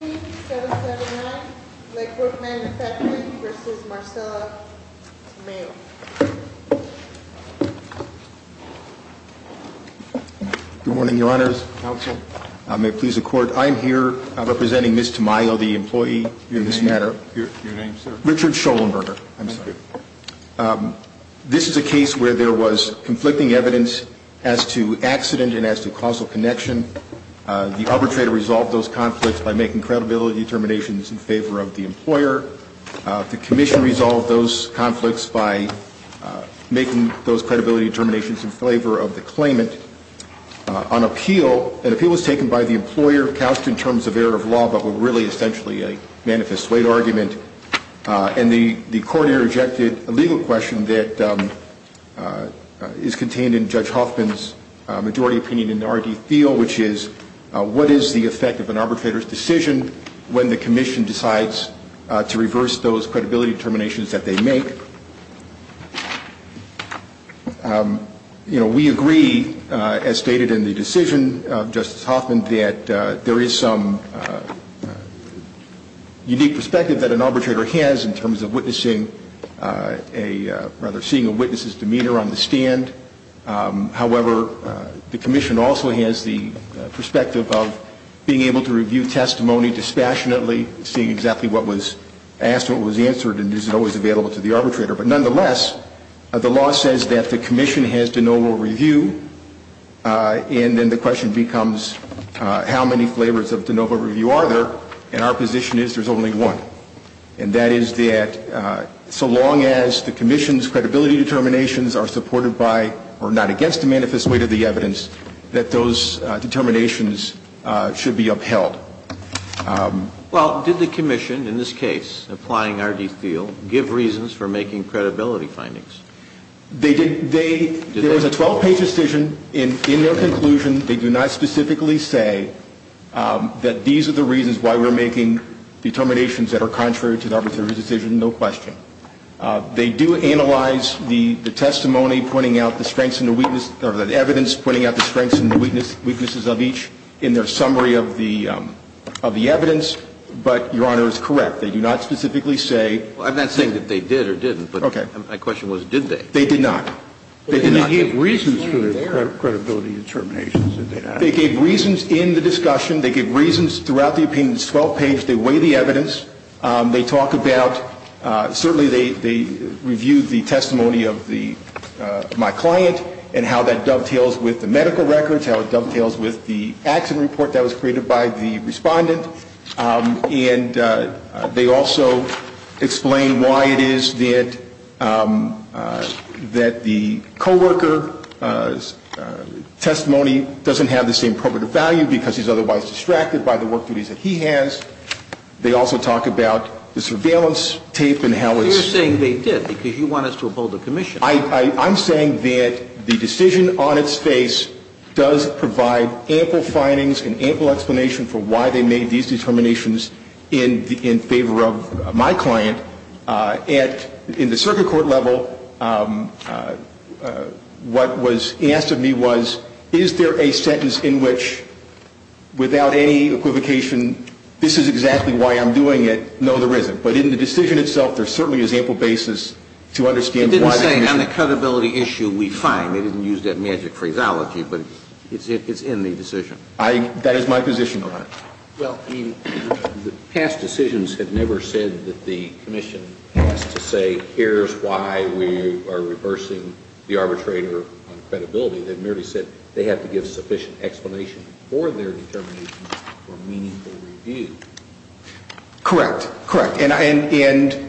779, Lakewood Manufacturing, v. Marcella Tamayo. Good morning, Your Honors. Counsel. I may please the Court. I am here representing Ms. Tamayo, the employee in this matter. Your name, sir? Richard Scholenberger. I'm sorry. Thank you. This is a case where there was conflicting evidence as to accident and as to causal connection. The arbitrator resolved those conflicts by making credibility determinations in favor of the employer. The commission resolved those conflicts by making those credibility determinations in favor of the claimant. An appeal was taken by the employer, couched in terms of error of law, but were really essentially a manifest weight argument. And the court interjected a legal question that is contained in Judge Hoffman's majority opinion in the R.D. field, which is, what is the effect of an arbitrator's decision when the commission decides to reverse those credibility determinations that they make? You know, we agree, as stated in the decision of Justice Hoffman, that there is some unique perspective that an arbitrator has in terms of witnessing, rather, seeing a witness's demeanor on the stand. However, the commission also has the perspective of being able to review testimony dispassionately, seeing exactly what was asked, what was answered, and is it always available to the arbitrator. But nonetheless, the law says that the commission has de novo review, and then the question becomes, how many flavors of de novo review are there? And our position is there's only one. And that is that so long as the commission's credibility determinations are supported by or not against the manifest weight of the evidence, that those determinations should be upheld. Well, did the commission, in this case, applying R.D. field, give reasons for making credibility findings? They did. There was a 12-page decision. In their conclusion, they do not specifically say that these are the reasons why we're making determinations that are contrary to the arbitrator's decision, no question. They do analyze the testimony pointing out the strengths and the weaknesses, or the evidence pointing out the strengths and the weaknesses of each in their summary of the evidence. But, Your Honor, it was correct. They do not specifically say. Well, I'm not saying that they did or didn't, but my question was, did they? They did not. They did not. But they gave reasons for their credibility determinations, did they not? They gave reasons in the discussion. They gave reasons throughout the opinion. It's a 12-page. They weigh the evidence. They talk about, certainly they review the testimony of my client and how that dovetails with the medical records, how it dovetails with the accident report that was created by the respondent. And they also explain why it is that the co-worker's testimony doesn't have the same probative value because he's otherwise distracted by the work duties that he has. They also talk about the surveillance tape and how it's. You're saying they did because you want us to uphold the commission. I'm saying that the decision on its face does provide ample findings and ample explanation for why they made these determinations in favor of my client. In the circuit court level, what was asked of me was, is there a sentence in which, without any equivocation, this is exactly why I'm doing it? No, there isn't. But in the decision itself, there certainly is ample basis to understand why they did it. It didn't say on the credibility issue we find. They didn't use that magic phraseology, but it's in the decision. That is my position on it. Well, I mean, past decisions have never said that the commission has to say here's why we are reversing the arbitrator on credibility. They've merely said they have to give sufficient explanation for their determination for meaningful review. Correct. Correct. And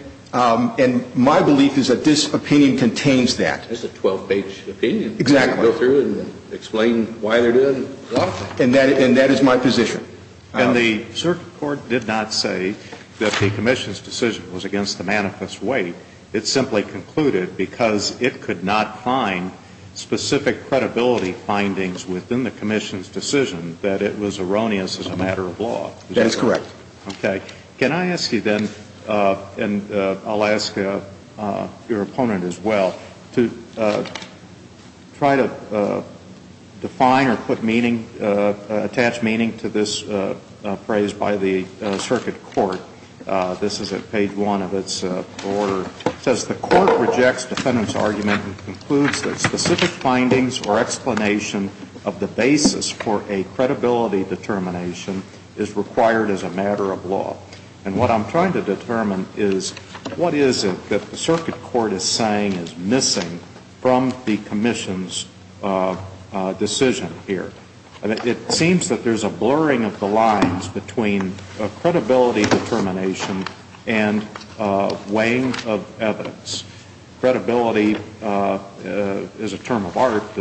my belief is that this opinion contains that. It's a 12-page opinion. Exactly. You can go through it and explain why they're doing it. And that is my position. And the circuit court did not say that the commission's decision was against the manifest weight. It simply concluded because it could not find specific credibility findings within the commission's decision that it was erroneous as a matter of law. That's correct. Okay. Can I ask you then, and I'll ask your opponent as well, to try to define or put meaning, attach meaning to this phrase by the circuit court. This is at page 1 of its order. It says the court rejects defendant's argument and concludes that specific findings or explanation of the basis for a credibility determination is required as a matter of law. And what I'm trying to determine is what is it that the circuit court is saying is missing from the commission's decision here. It seems that there's a blurring of the lines between credibility determination and weighing of evidence. Credibility is a term of art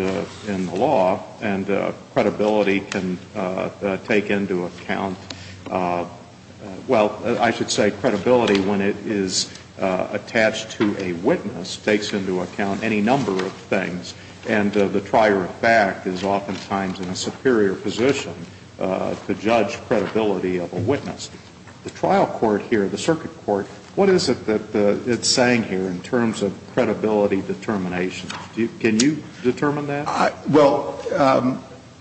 in the law, and credibility can take into account, well, I should say credibility when it is attached to a witness takes into account any number of things. And the trier of fact is oftentimes in a superior position to judge credibility of a witness. The trial court here, the circuit court, what is it that it's saying here in terms of credibility determination? Can you determine that? Well,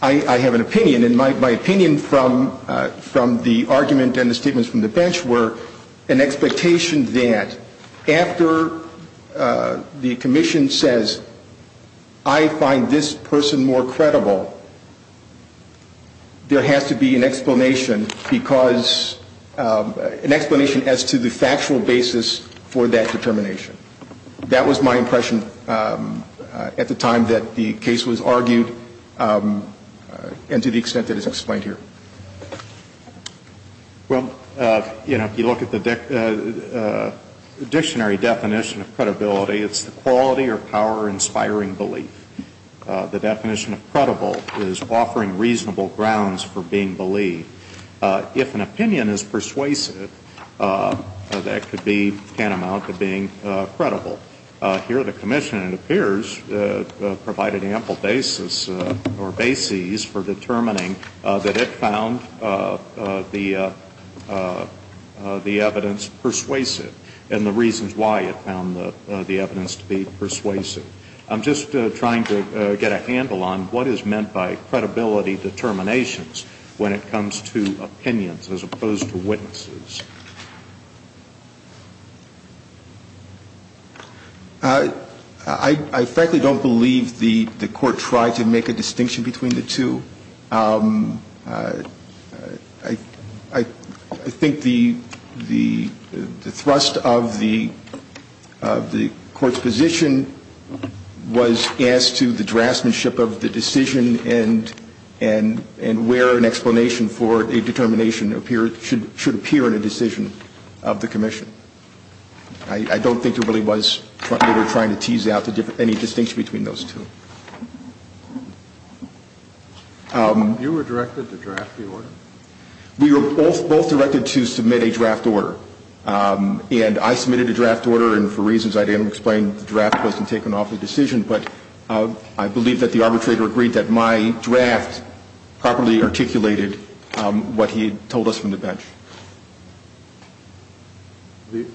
I have an opinion, and my opinion from the argument and the statements from the bench were an expectation that after the commission says I find this person more credible, there has to be an explanation because an explanation as to the factual basis for that determination. That was my impression at the time that the case was argued and to the extent that is explained here. Well, you know, if you look at the dictionary definition of credibility, it's the quality or power inspiring belief. The definition of credible is offering reasonable grounds for being believed. If an opinion is persuasive, that could be tantamount to being credible. Here the commission, it appears, provided ample basis or bases for determining that it found the evidence persuasive and the reasons why it found the evidence to be persuasive. I'm just trying to get a handle on what is meant by credibility determinations when it comes to opinions as opposed to witnesses. I frankly don't believe the court tried to make a distinction between the two. I think the thrust of the court's position was as to the draftsmanship of the decision and where an explanation for a determination should appear in a decision of the commission. I don't think there really was, they were trying to tease out any distinction between those two. You were directed to draft the order? We were both directed to submit a draft order. And I submitted a draft order and for reasons I didn't explain, the draft wasn't taken off the decision. I believe that the arbitrator agreed that my draft properly articulated what he told us from the bench. The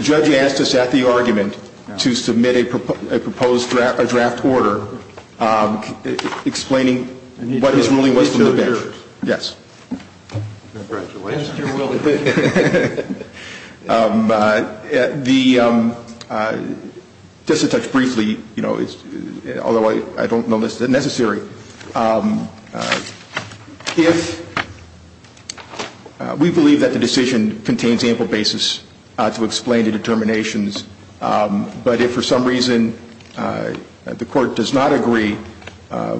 judge asked us at the argument to submit a proposed draft order explaining what his ruling was from the bench. Yes. Just to touch briefly, although I don't know if this is necessary, if we believe that the decision contains ample basis to explain the determinations, but if for some reason the court does not agree,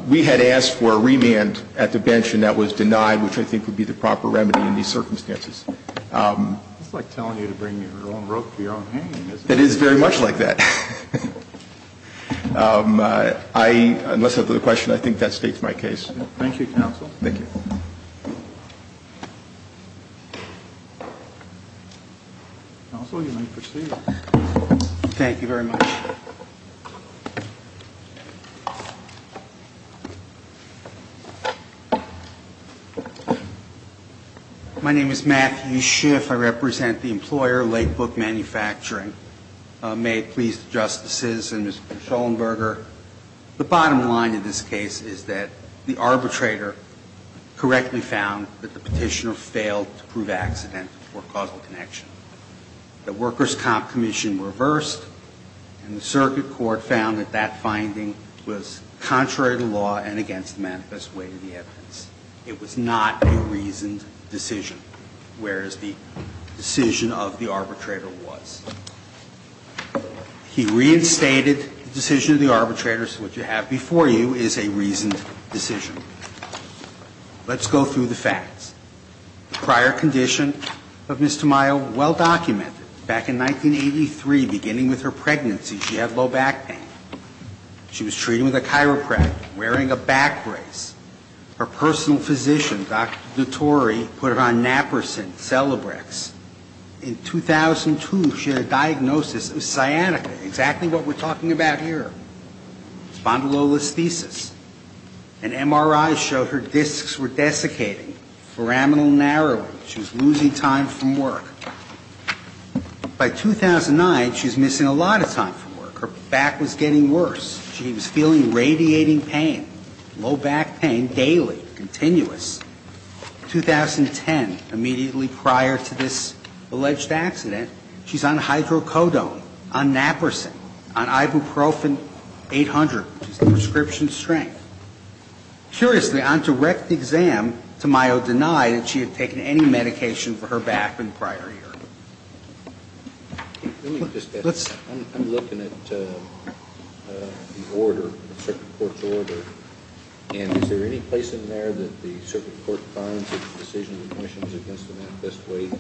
we had asked for a remand at the bench and that was denied, which I think would be the proper remedy in these circumstances. It's like telling you to bring your own rope to your own hanging, isn't it? It is very much like that. Unless there's another question, I think that states my case. Thank you, counsel. Thank you. Counsel, you may proceed. Thank you very much. My name is Matthew Schiff. I represent the employer, Lake Book Manufacturing. May it please the Justices and Mr. Schellenberger, the bottom line in this case is that the arbitrator correctly found that the petitioner failed to prove accidental or causal connection. The workers' comp commission reversed and the circuit court found that that finding was contrary to law and against the manifest way to the evidence. It was not a reasoned decision, whereas the decision of the arbitrator was. He reinstated the decision of the arbitrator, so what you have before you is a reasoned decision. Let's go through the facts. The prior condition of Ms. Tamayo, well documented. Back in 1983, beginning with her pregnancy, she had low back pain. She was treated with a chiropractor, wearing a back brace. Her personal physician, Dr. Dutore, put her on naproxen, Celebrex. In 2002, she had a diagnosis of sciatica, exactly what we're talking about here. Spondylolisthesis. An MRI showed her discs were desiccating, foraminal narrowing. She was losing time from work. By 2009, she was missing a lot of time from work. Her back was getting worse. She was feeling radiating pain, low back pain, daily, continuous. In 2010, immediately prior to this alleged accident, she's on hydrocodone, on naproxen, on ibuprofen 800, which is the prescription strength. Curiously, on direct exam, Tamayo denied that she had taken any medication for her back the prior year. Let me just add. I'm looking at the order, the circuit court's order, and is there any place in there that the circuit court finds that the decision of the commission is against the manifest weight?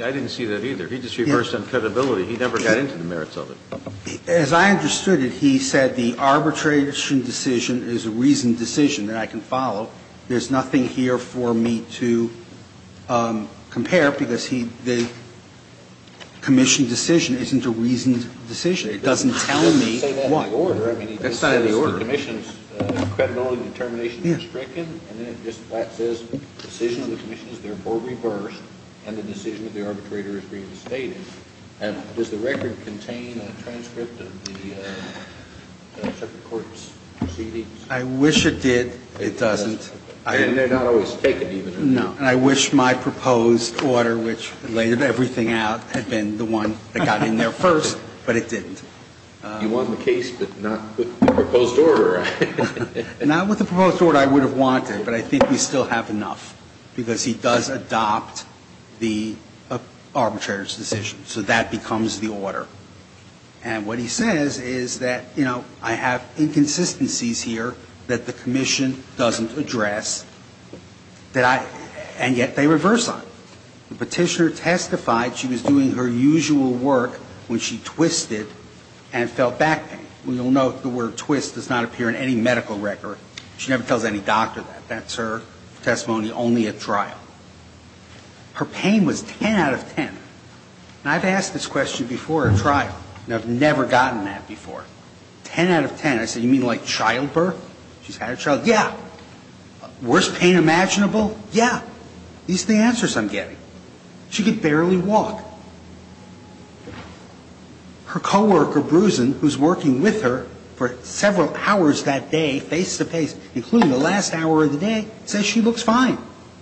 I didn't see that either. He just reversed on credibility. He never got into the merits of it. As I understood it, he said the arbitration decision is a reasoned decision that I can follow. There's nothing here for me to compare because the commission decision isn't a reasoned decision. It doesn't tell me what. That's not in the order. The decision of the commission is therefore reversed and the decision of the arbitrator is reinstated. Does the record contain a transcript of the circuit court's proceedings? I wish it did. It doesn't. And they're not always taken, even. No. And I wish my proposed order, which laid everything out, had been the one that got in there first, but it didn't. You won the case, but not the proposed order. Not with the proposed order I would have wanted, but I think we still have enough because he does adopt the arbitrator's decision. So that becomes the order. And what he says is that, you know, I have inconsistencies here that the commission doesn't address, and yet they reverse on. The Petitioner testified she was doing her usual work when she twisted and fell back pain. You'll note the word twist does not appear in any medical record. She never tells any doctor that. That's her testimony only at trial. Her pain was 10 out of 10. And I've asked this question before at trial, and I've never gotten that before. Ten out of ten. I said, you mean like childbirth? She's had a child? Yeah. Worst pain imaginable? Yeah. These are the answers I'm getting. She could barely walk. Her coworker, Brusen, who's working with her for several hours that day, face-to-face, including the last hour of the day, says she looks fine.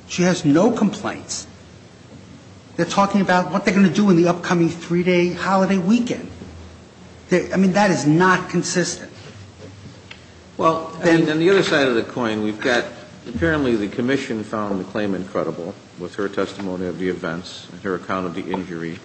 She has no complaints. They're talking about what they're going to do in the upcoming three-day holiday weekend. I mean, that is not consistent. Well, and on the other side of the coin, we've got apparently the commission found the claim incredible with her testimony of the events and her account of the injury.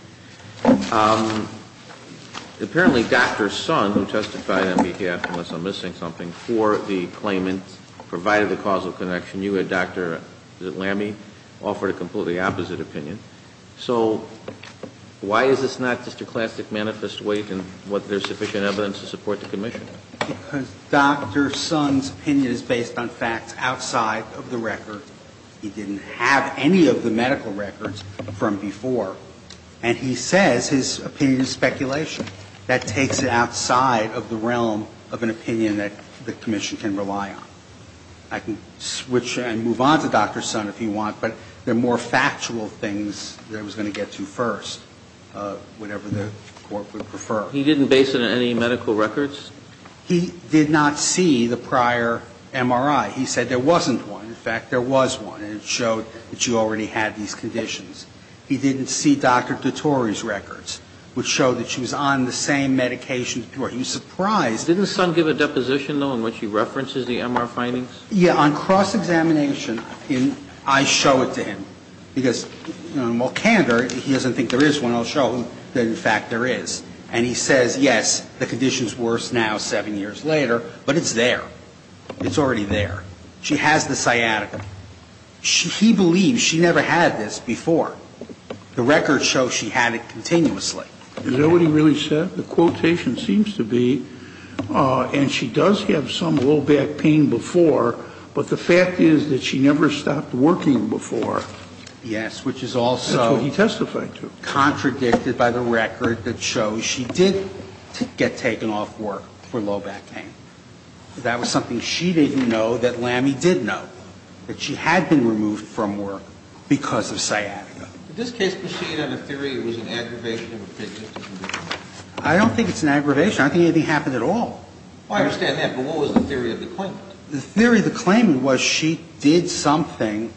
Apparently Dr. Sun, who testified on behalf, unless I'm missing something, for the claimant, provided the causal connection. You and Dr. Lamme offered a completely opposite opinion. So why is this not just a classic manifest weight and whether there's sufficient evidence to support the commission? Because Dr. Sun's opinion is based on facts outside of the record. He didn't have any of the medical records from before. And he says his opinion is speculation. That takes it outside of the realm of an opinion that the commission can rely on. I can switch and move on to Dr. Sun if you want, but there are more factual things that I was going to get to first, whatever the Court would prefer. He didn't base it on any medical records? He did not see the prior MRI. He said there wasn't one. In fact, there was one, and it showed that you already had these conditions. He didn't see Dr. DeTore's records, which showed that she was on the same medication before. He was surprised. Didn't Sun give a deposition, though, in which he references the MR findings? Yeah. On cross-examination, I show it to him. Because, well, candor, he doesn't think there is one. I'll show him that, in fact, there is. And he says, yes, the condition is worse now, 7 years later, but it's there. It's already there. It's already there. She has the sciatica. He believes she never had this before. The records show she had it continuously. Is that what he really said? The quotation seems to be, and she does have some low back pain before, but the fact is that she never stopped working before. Yes, which is also. That's what he testified to. Contradicted by the record that shows she did get taken off work for low back pain. That was something she didn't know that Lammy did know, that she had been removed from work because of sciatica. In this case, does she have a theory it was an aggravation of a pigmentation? I don't think it's an aggravation. I don't think anything happened at all. I understand that. But what was the theory of the claimant? The theory of the claimant was she did something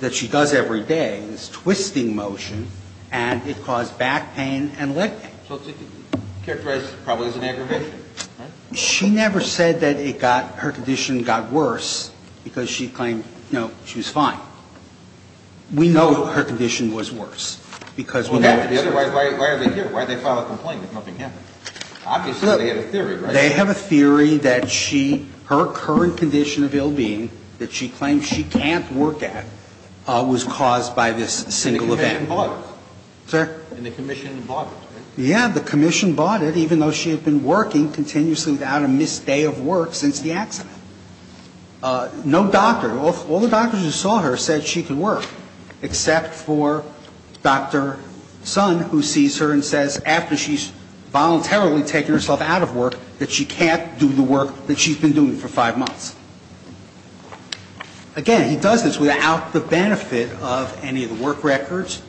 that she does every day, this twisting motion, and it caused back pain and leg pain. So it's characterized probably as an aggravation. She never said that it got, her condition got worse because she claimed, you know, she was fine. We know her condition was worse because we know that's true. Why are they here? Why did they file a complaint if nothing happened? Obviously they had a theory, right? They have a theory that she, her current condition of ill-being that she claims she can't work at was caused by this single event. And the commission bought it. Sir? And the commission bought it, right? Yeah, the commission bought it even though she had been working continuously without a missed day of work since the accident. No doctor, all the doctors who saw her said she could work, except for Dr. Sun who sees her and says after she's voluntarily taken herself out of work that she can't do the work that she's been doing for five months. Again, he does this without the benefit of any of the work records,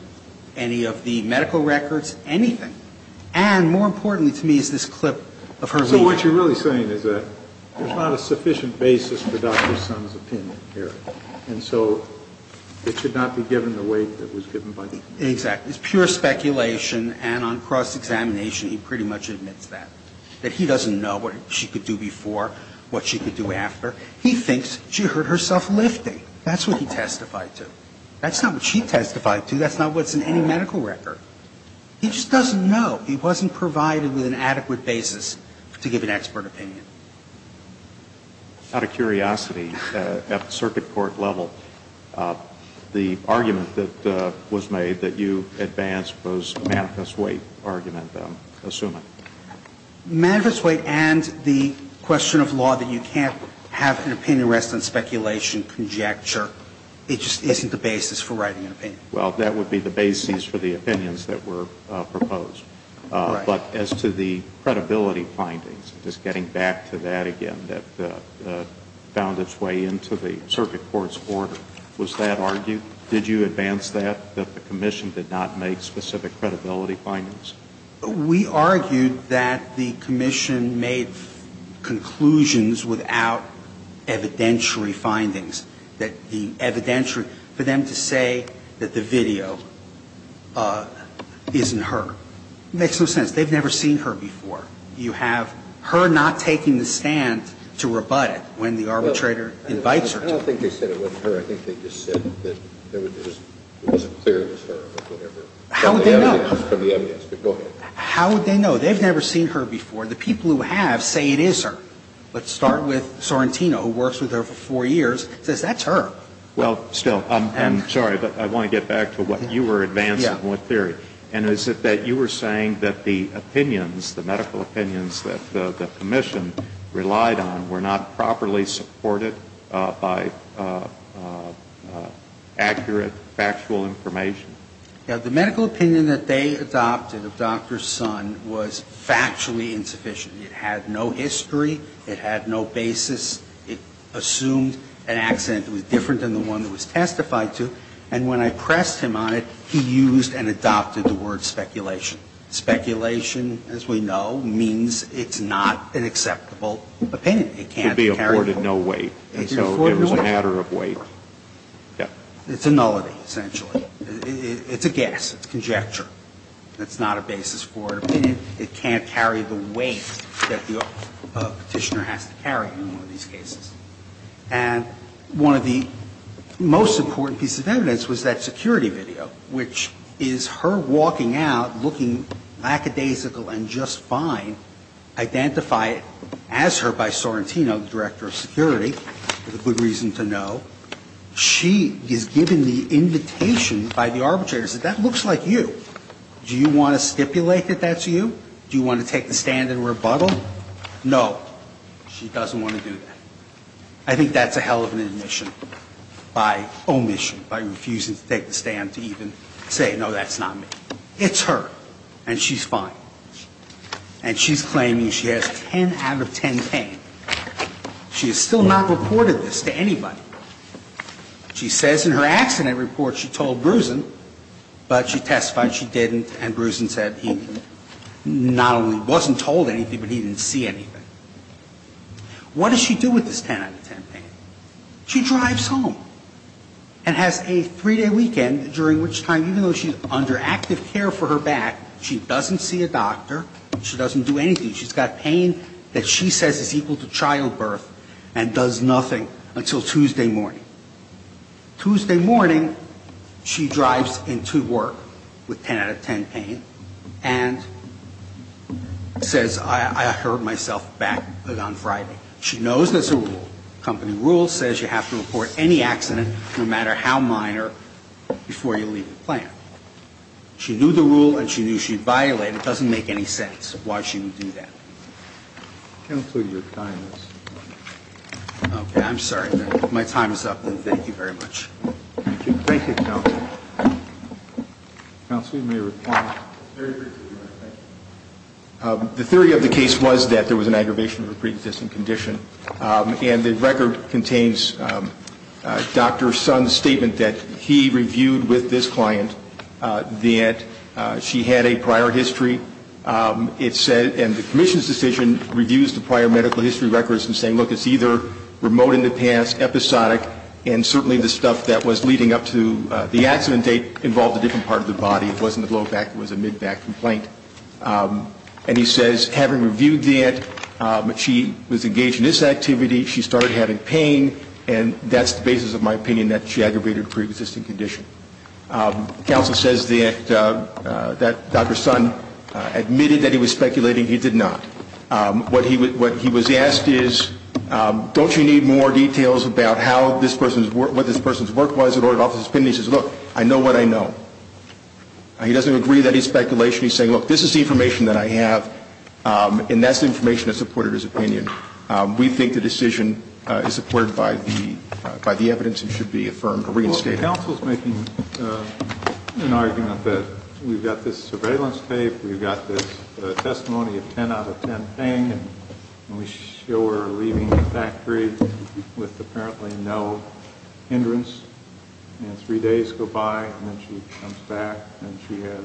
any of the medical records, anything. And more importantly to me is this clip of her leaving. So what you're really saying is that there's not a sufficient basis for Dr. Sun's opinion here. And so it should not be given the weight that was given by the commission. Exactly. It's pure speculation and on cross-examination he pretty much admits that, that he doesn't know what she could do before, what she could do after. He thinks she hurt herself lifting. That's what he testified to. That's not what she testified to. That's not what's in any medical record. He just doesn't know. He wasn't provided with an adequate basis to give an expert opinion. Out of curiosity, at the circuit court level, the argument that was made that you advanced was Manifest Weight argument, I'm assuming. Manifest Weight and the question of law that you can't have an opinion rest on speculation, conjecture. It just isn't the basis for writing an opinion. Well, that would be the basis for the opinions that were proposed. Right. But as to the credibility findings, just getting back to that again, that found its way into the circuit court's order, was that argued? Did you advance that, that the commission did not make specific credibility findings? We argued that the commission made conclusions without evidentiary findings, that the evidentiary, for them to say that the video isn't her. It makes no sense. They've never seen her before. You have her not taking the stand to rebut it when the arbitrator invites her to. I don't think they said it wasn't her. I think they just said that there was a clear it was her or whatever. How would they know? From the evidence, but go ahead. How would they know? They've never seen her before. The people who have say it is her. Let's start with Sorrentino, who works with her for four years, says that's her. Well, still, I'm sorry, but I want to get back to what you were advancing, what theory. And is it that you were saying that the opinions, the medical opinions that the commission relied on were not properly supported by accurate factual information? Yeah. The medical opinion that they adopted of Dr. Sun was factually insufficient. It had no history. It had no basis. It assumed an accent that was different than the one that was testified to. And when I pressed him on it, he used and adopted the word speculation. Speculation, as we know, means it's not an acceptable opinion. It can't carry the weight. It could be afforded no weight. It could be afforded no weight. So it was a matter of weight. Yeah. It's a nullity, essentially. It's a guess. It's conjecture. It's not a basis for an opinion. It can't carry the weight that the Petitioner has to carry in one of these cases. And one of the most important pieces of evidence was that security video, which is her walking out, looking lackadaisical and just fine, identified as her by Sorrentino, the Director of Security, with a good reason to know. She is given the invitation by the arbitrators that that looks like you. Do you want to stipulate that that's you? Do you want to take the stand and rebuttal? No. She doesn't want to do that. I think that's a hell of an admission by omission, by refusing to take the stand to even say, no, that's not me. It's her. And she's fine. And she's claiming she has 10 out of 10 pain. She has still not reported this to anybody. She says in her accident report she told Brewson, but she testified she didn't, and Brewson said he not only wasn't told anything, but he didn't see anything. What does she do with this 10 out of 10 pain? She drives home and has a three-day weekend, during which time, even though she's under active care for her back, she doesn't see a doctor, she doesn't do anything. She's got pain that she says is equal to childbirth and does nothing until Tuesday morning. Tuesday morning, she drives into work with 10 out of 10 pain and says, I hurt myself back on Friday. She knows that's a rule. Company rule says you have to report any accident, no matter how minor, before you leave the plant. She knew the rule, and she knew she violated it. Counsel, your time is up. Okay, I'm sorry. My time is up, and thank you very much. Thank you. Thank you, Counsel. Counsel, you may report. Very briefly, thank you. The theory of the case was that there was an aggravation of a pre-existing condition, and the record contains Dr. Sun's statement that he reviewed with this client that she had a prior history. And the commission's decision reviews the prior medical history records and saying, look, it's either remote in the past, episodic, and certainly the stuff that was leading up to the accident date involved a different part of the body. It wasn't a blowback. It was a mid-back complaint. And he says, having reviewed that, she was engaged in this activity. She started having pain, and that's the basis of my opinion that she aggravated a pre-existing condition. Counsel says that Dr. Sun admitted that he was speculating. He did not. What he was asked is, don't you need more details about what this person's work was in order to offer his opinion? He says, look, I know what I know. He doesn't agree that he's speculating. He's saying, look, this is the information that I have, and that's the information that supported his opinion. We think the decision is supported by the evidence and should be affirmed or reinstated. Counsel is making an argument that we've got this surveillance tape, we've got this testimony of 10 out of 10 pain, and we show her leaving the factory with apparently no hindrance, and three days go by, and then she comes back, and she has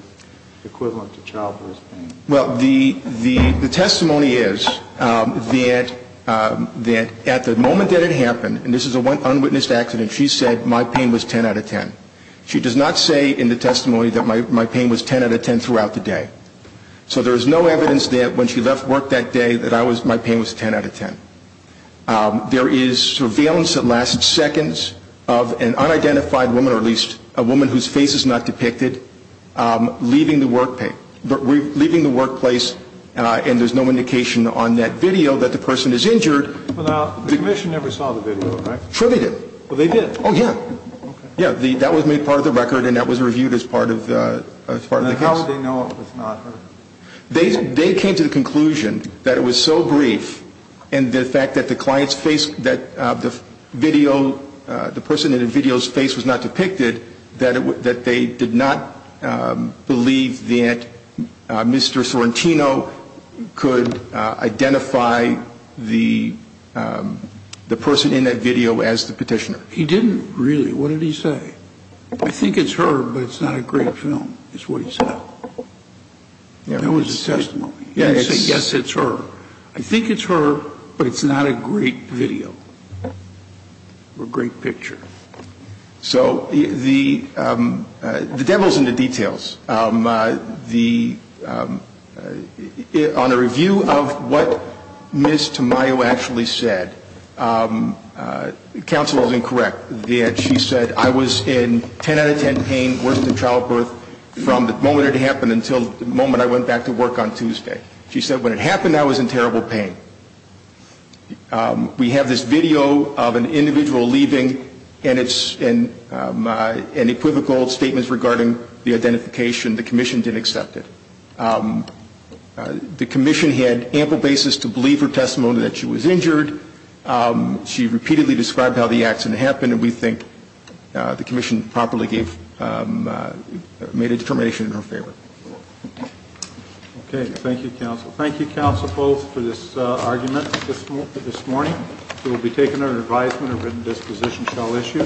equivalent to childbirth pain. Well, the testimony is that at the moment that it happened, and this is an unwitnessed testimony, she said my pain was 10 out of 10. She does not say in the testimony that my pain was 10 out of 10 throughout the day. So there is no evidence that when she left work that day that my pain was 10 out of 10. There is surveillance that lasts seconds of an unidentified woman, or at least a woman whose face is not depicted, leaving the workplace, and there's no indication on that video that the person is injured. Well, now, the commission never saw the video, right? Sure they did. Well, they did. Oh, yeah. Yeah, that was made part of the record, and that was reviewed as part of the case. And how did they know it was not her? They came to the conclusion that it was so brief, and the fact that the client's face, that the video, the person in the video's face was not depicted, that they did not believe that Mr. Sorrentino could identify the person in that video as the petitioner. He didn't really. What did he say? I think it's her, but it's not a great film, is what he said. That was his testimony. He didn't say, yes, it's her. I think it's her, but it's not a great video or great picture. So the devil's in the details. On a review of what Ms. Tamayo actually said, counsel is incorrect that she said, I was in 10 out of 10 pain worse than childbirth from the moment it happened until the moment I went back to work on Tuesday. She said, when it happened, I was in terrible pain. We have this video of an individual leaving, and it's an equivocal statement regarding the identification. The commission didn't accept it. The commission had ample basis to believe her testimony that she was injured. She repeatedly described how the accident happened, and we think the commission properly made a determination in her favor. Okay. Thank you, counsel. Thank you, counsel, both, for this argument this morning. It will be taken under advisement a written disposition shall issue.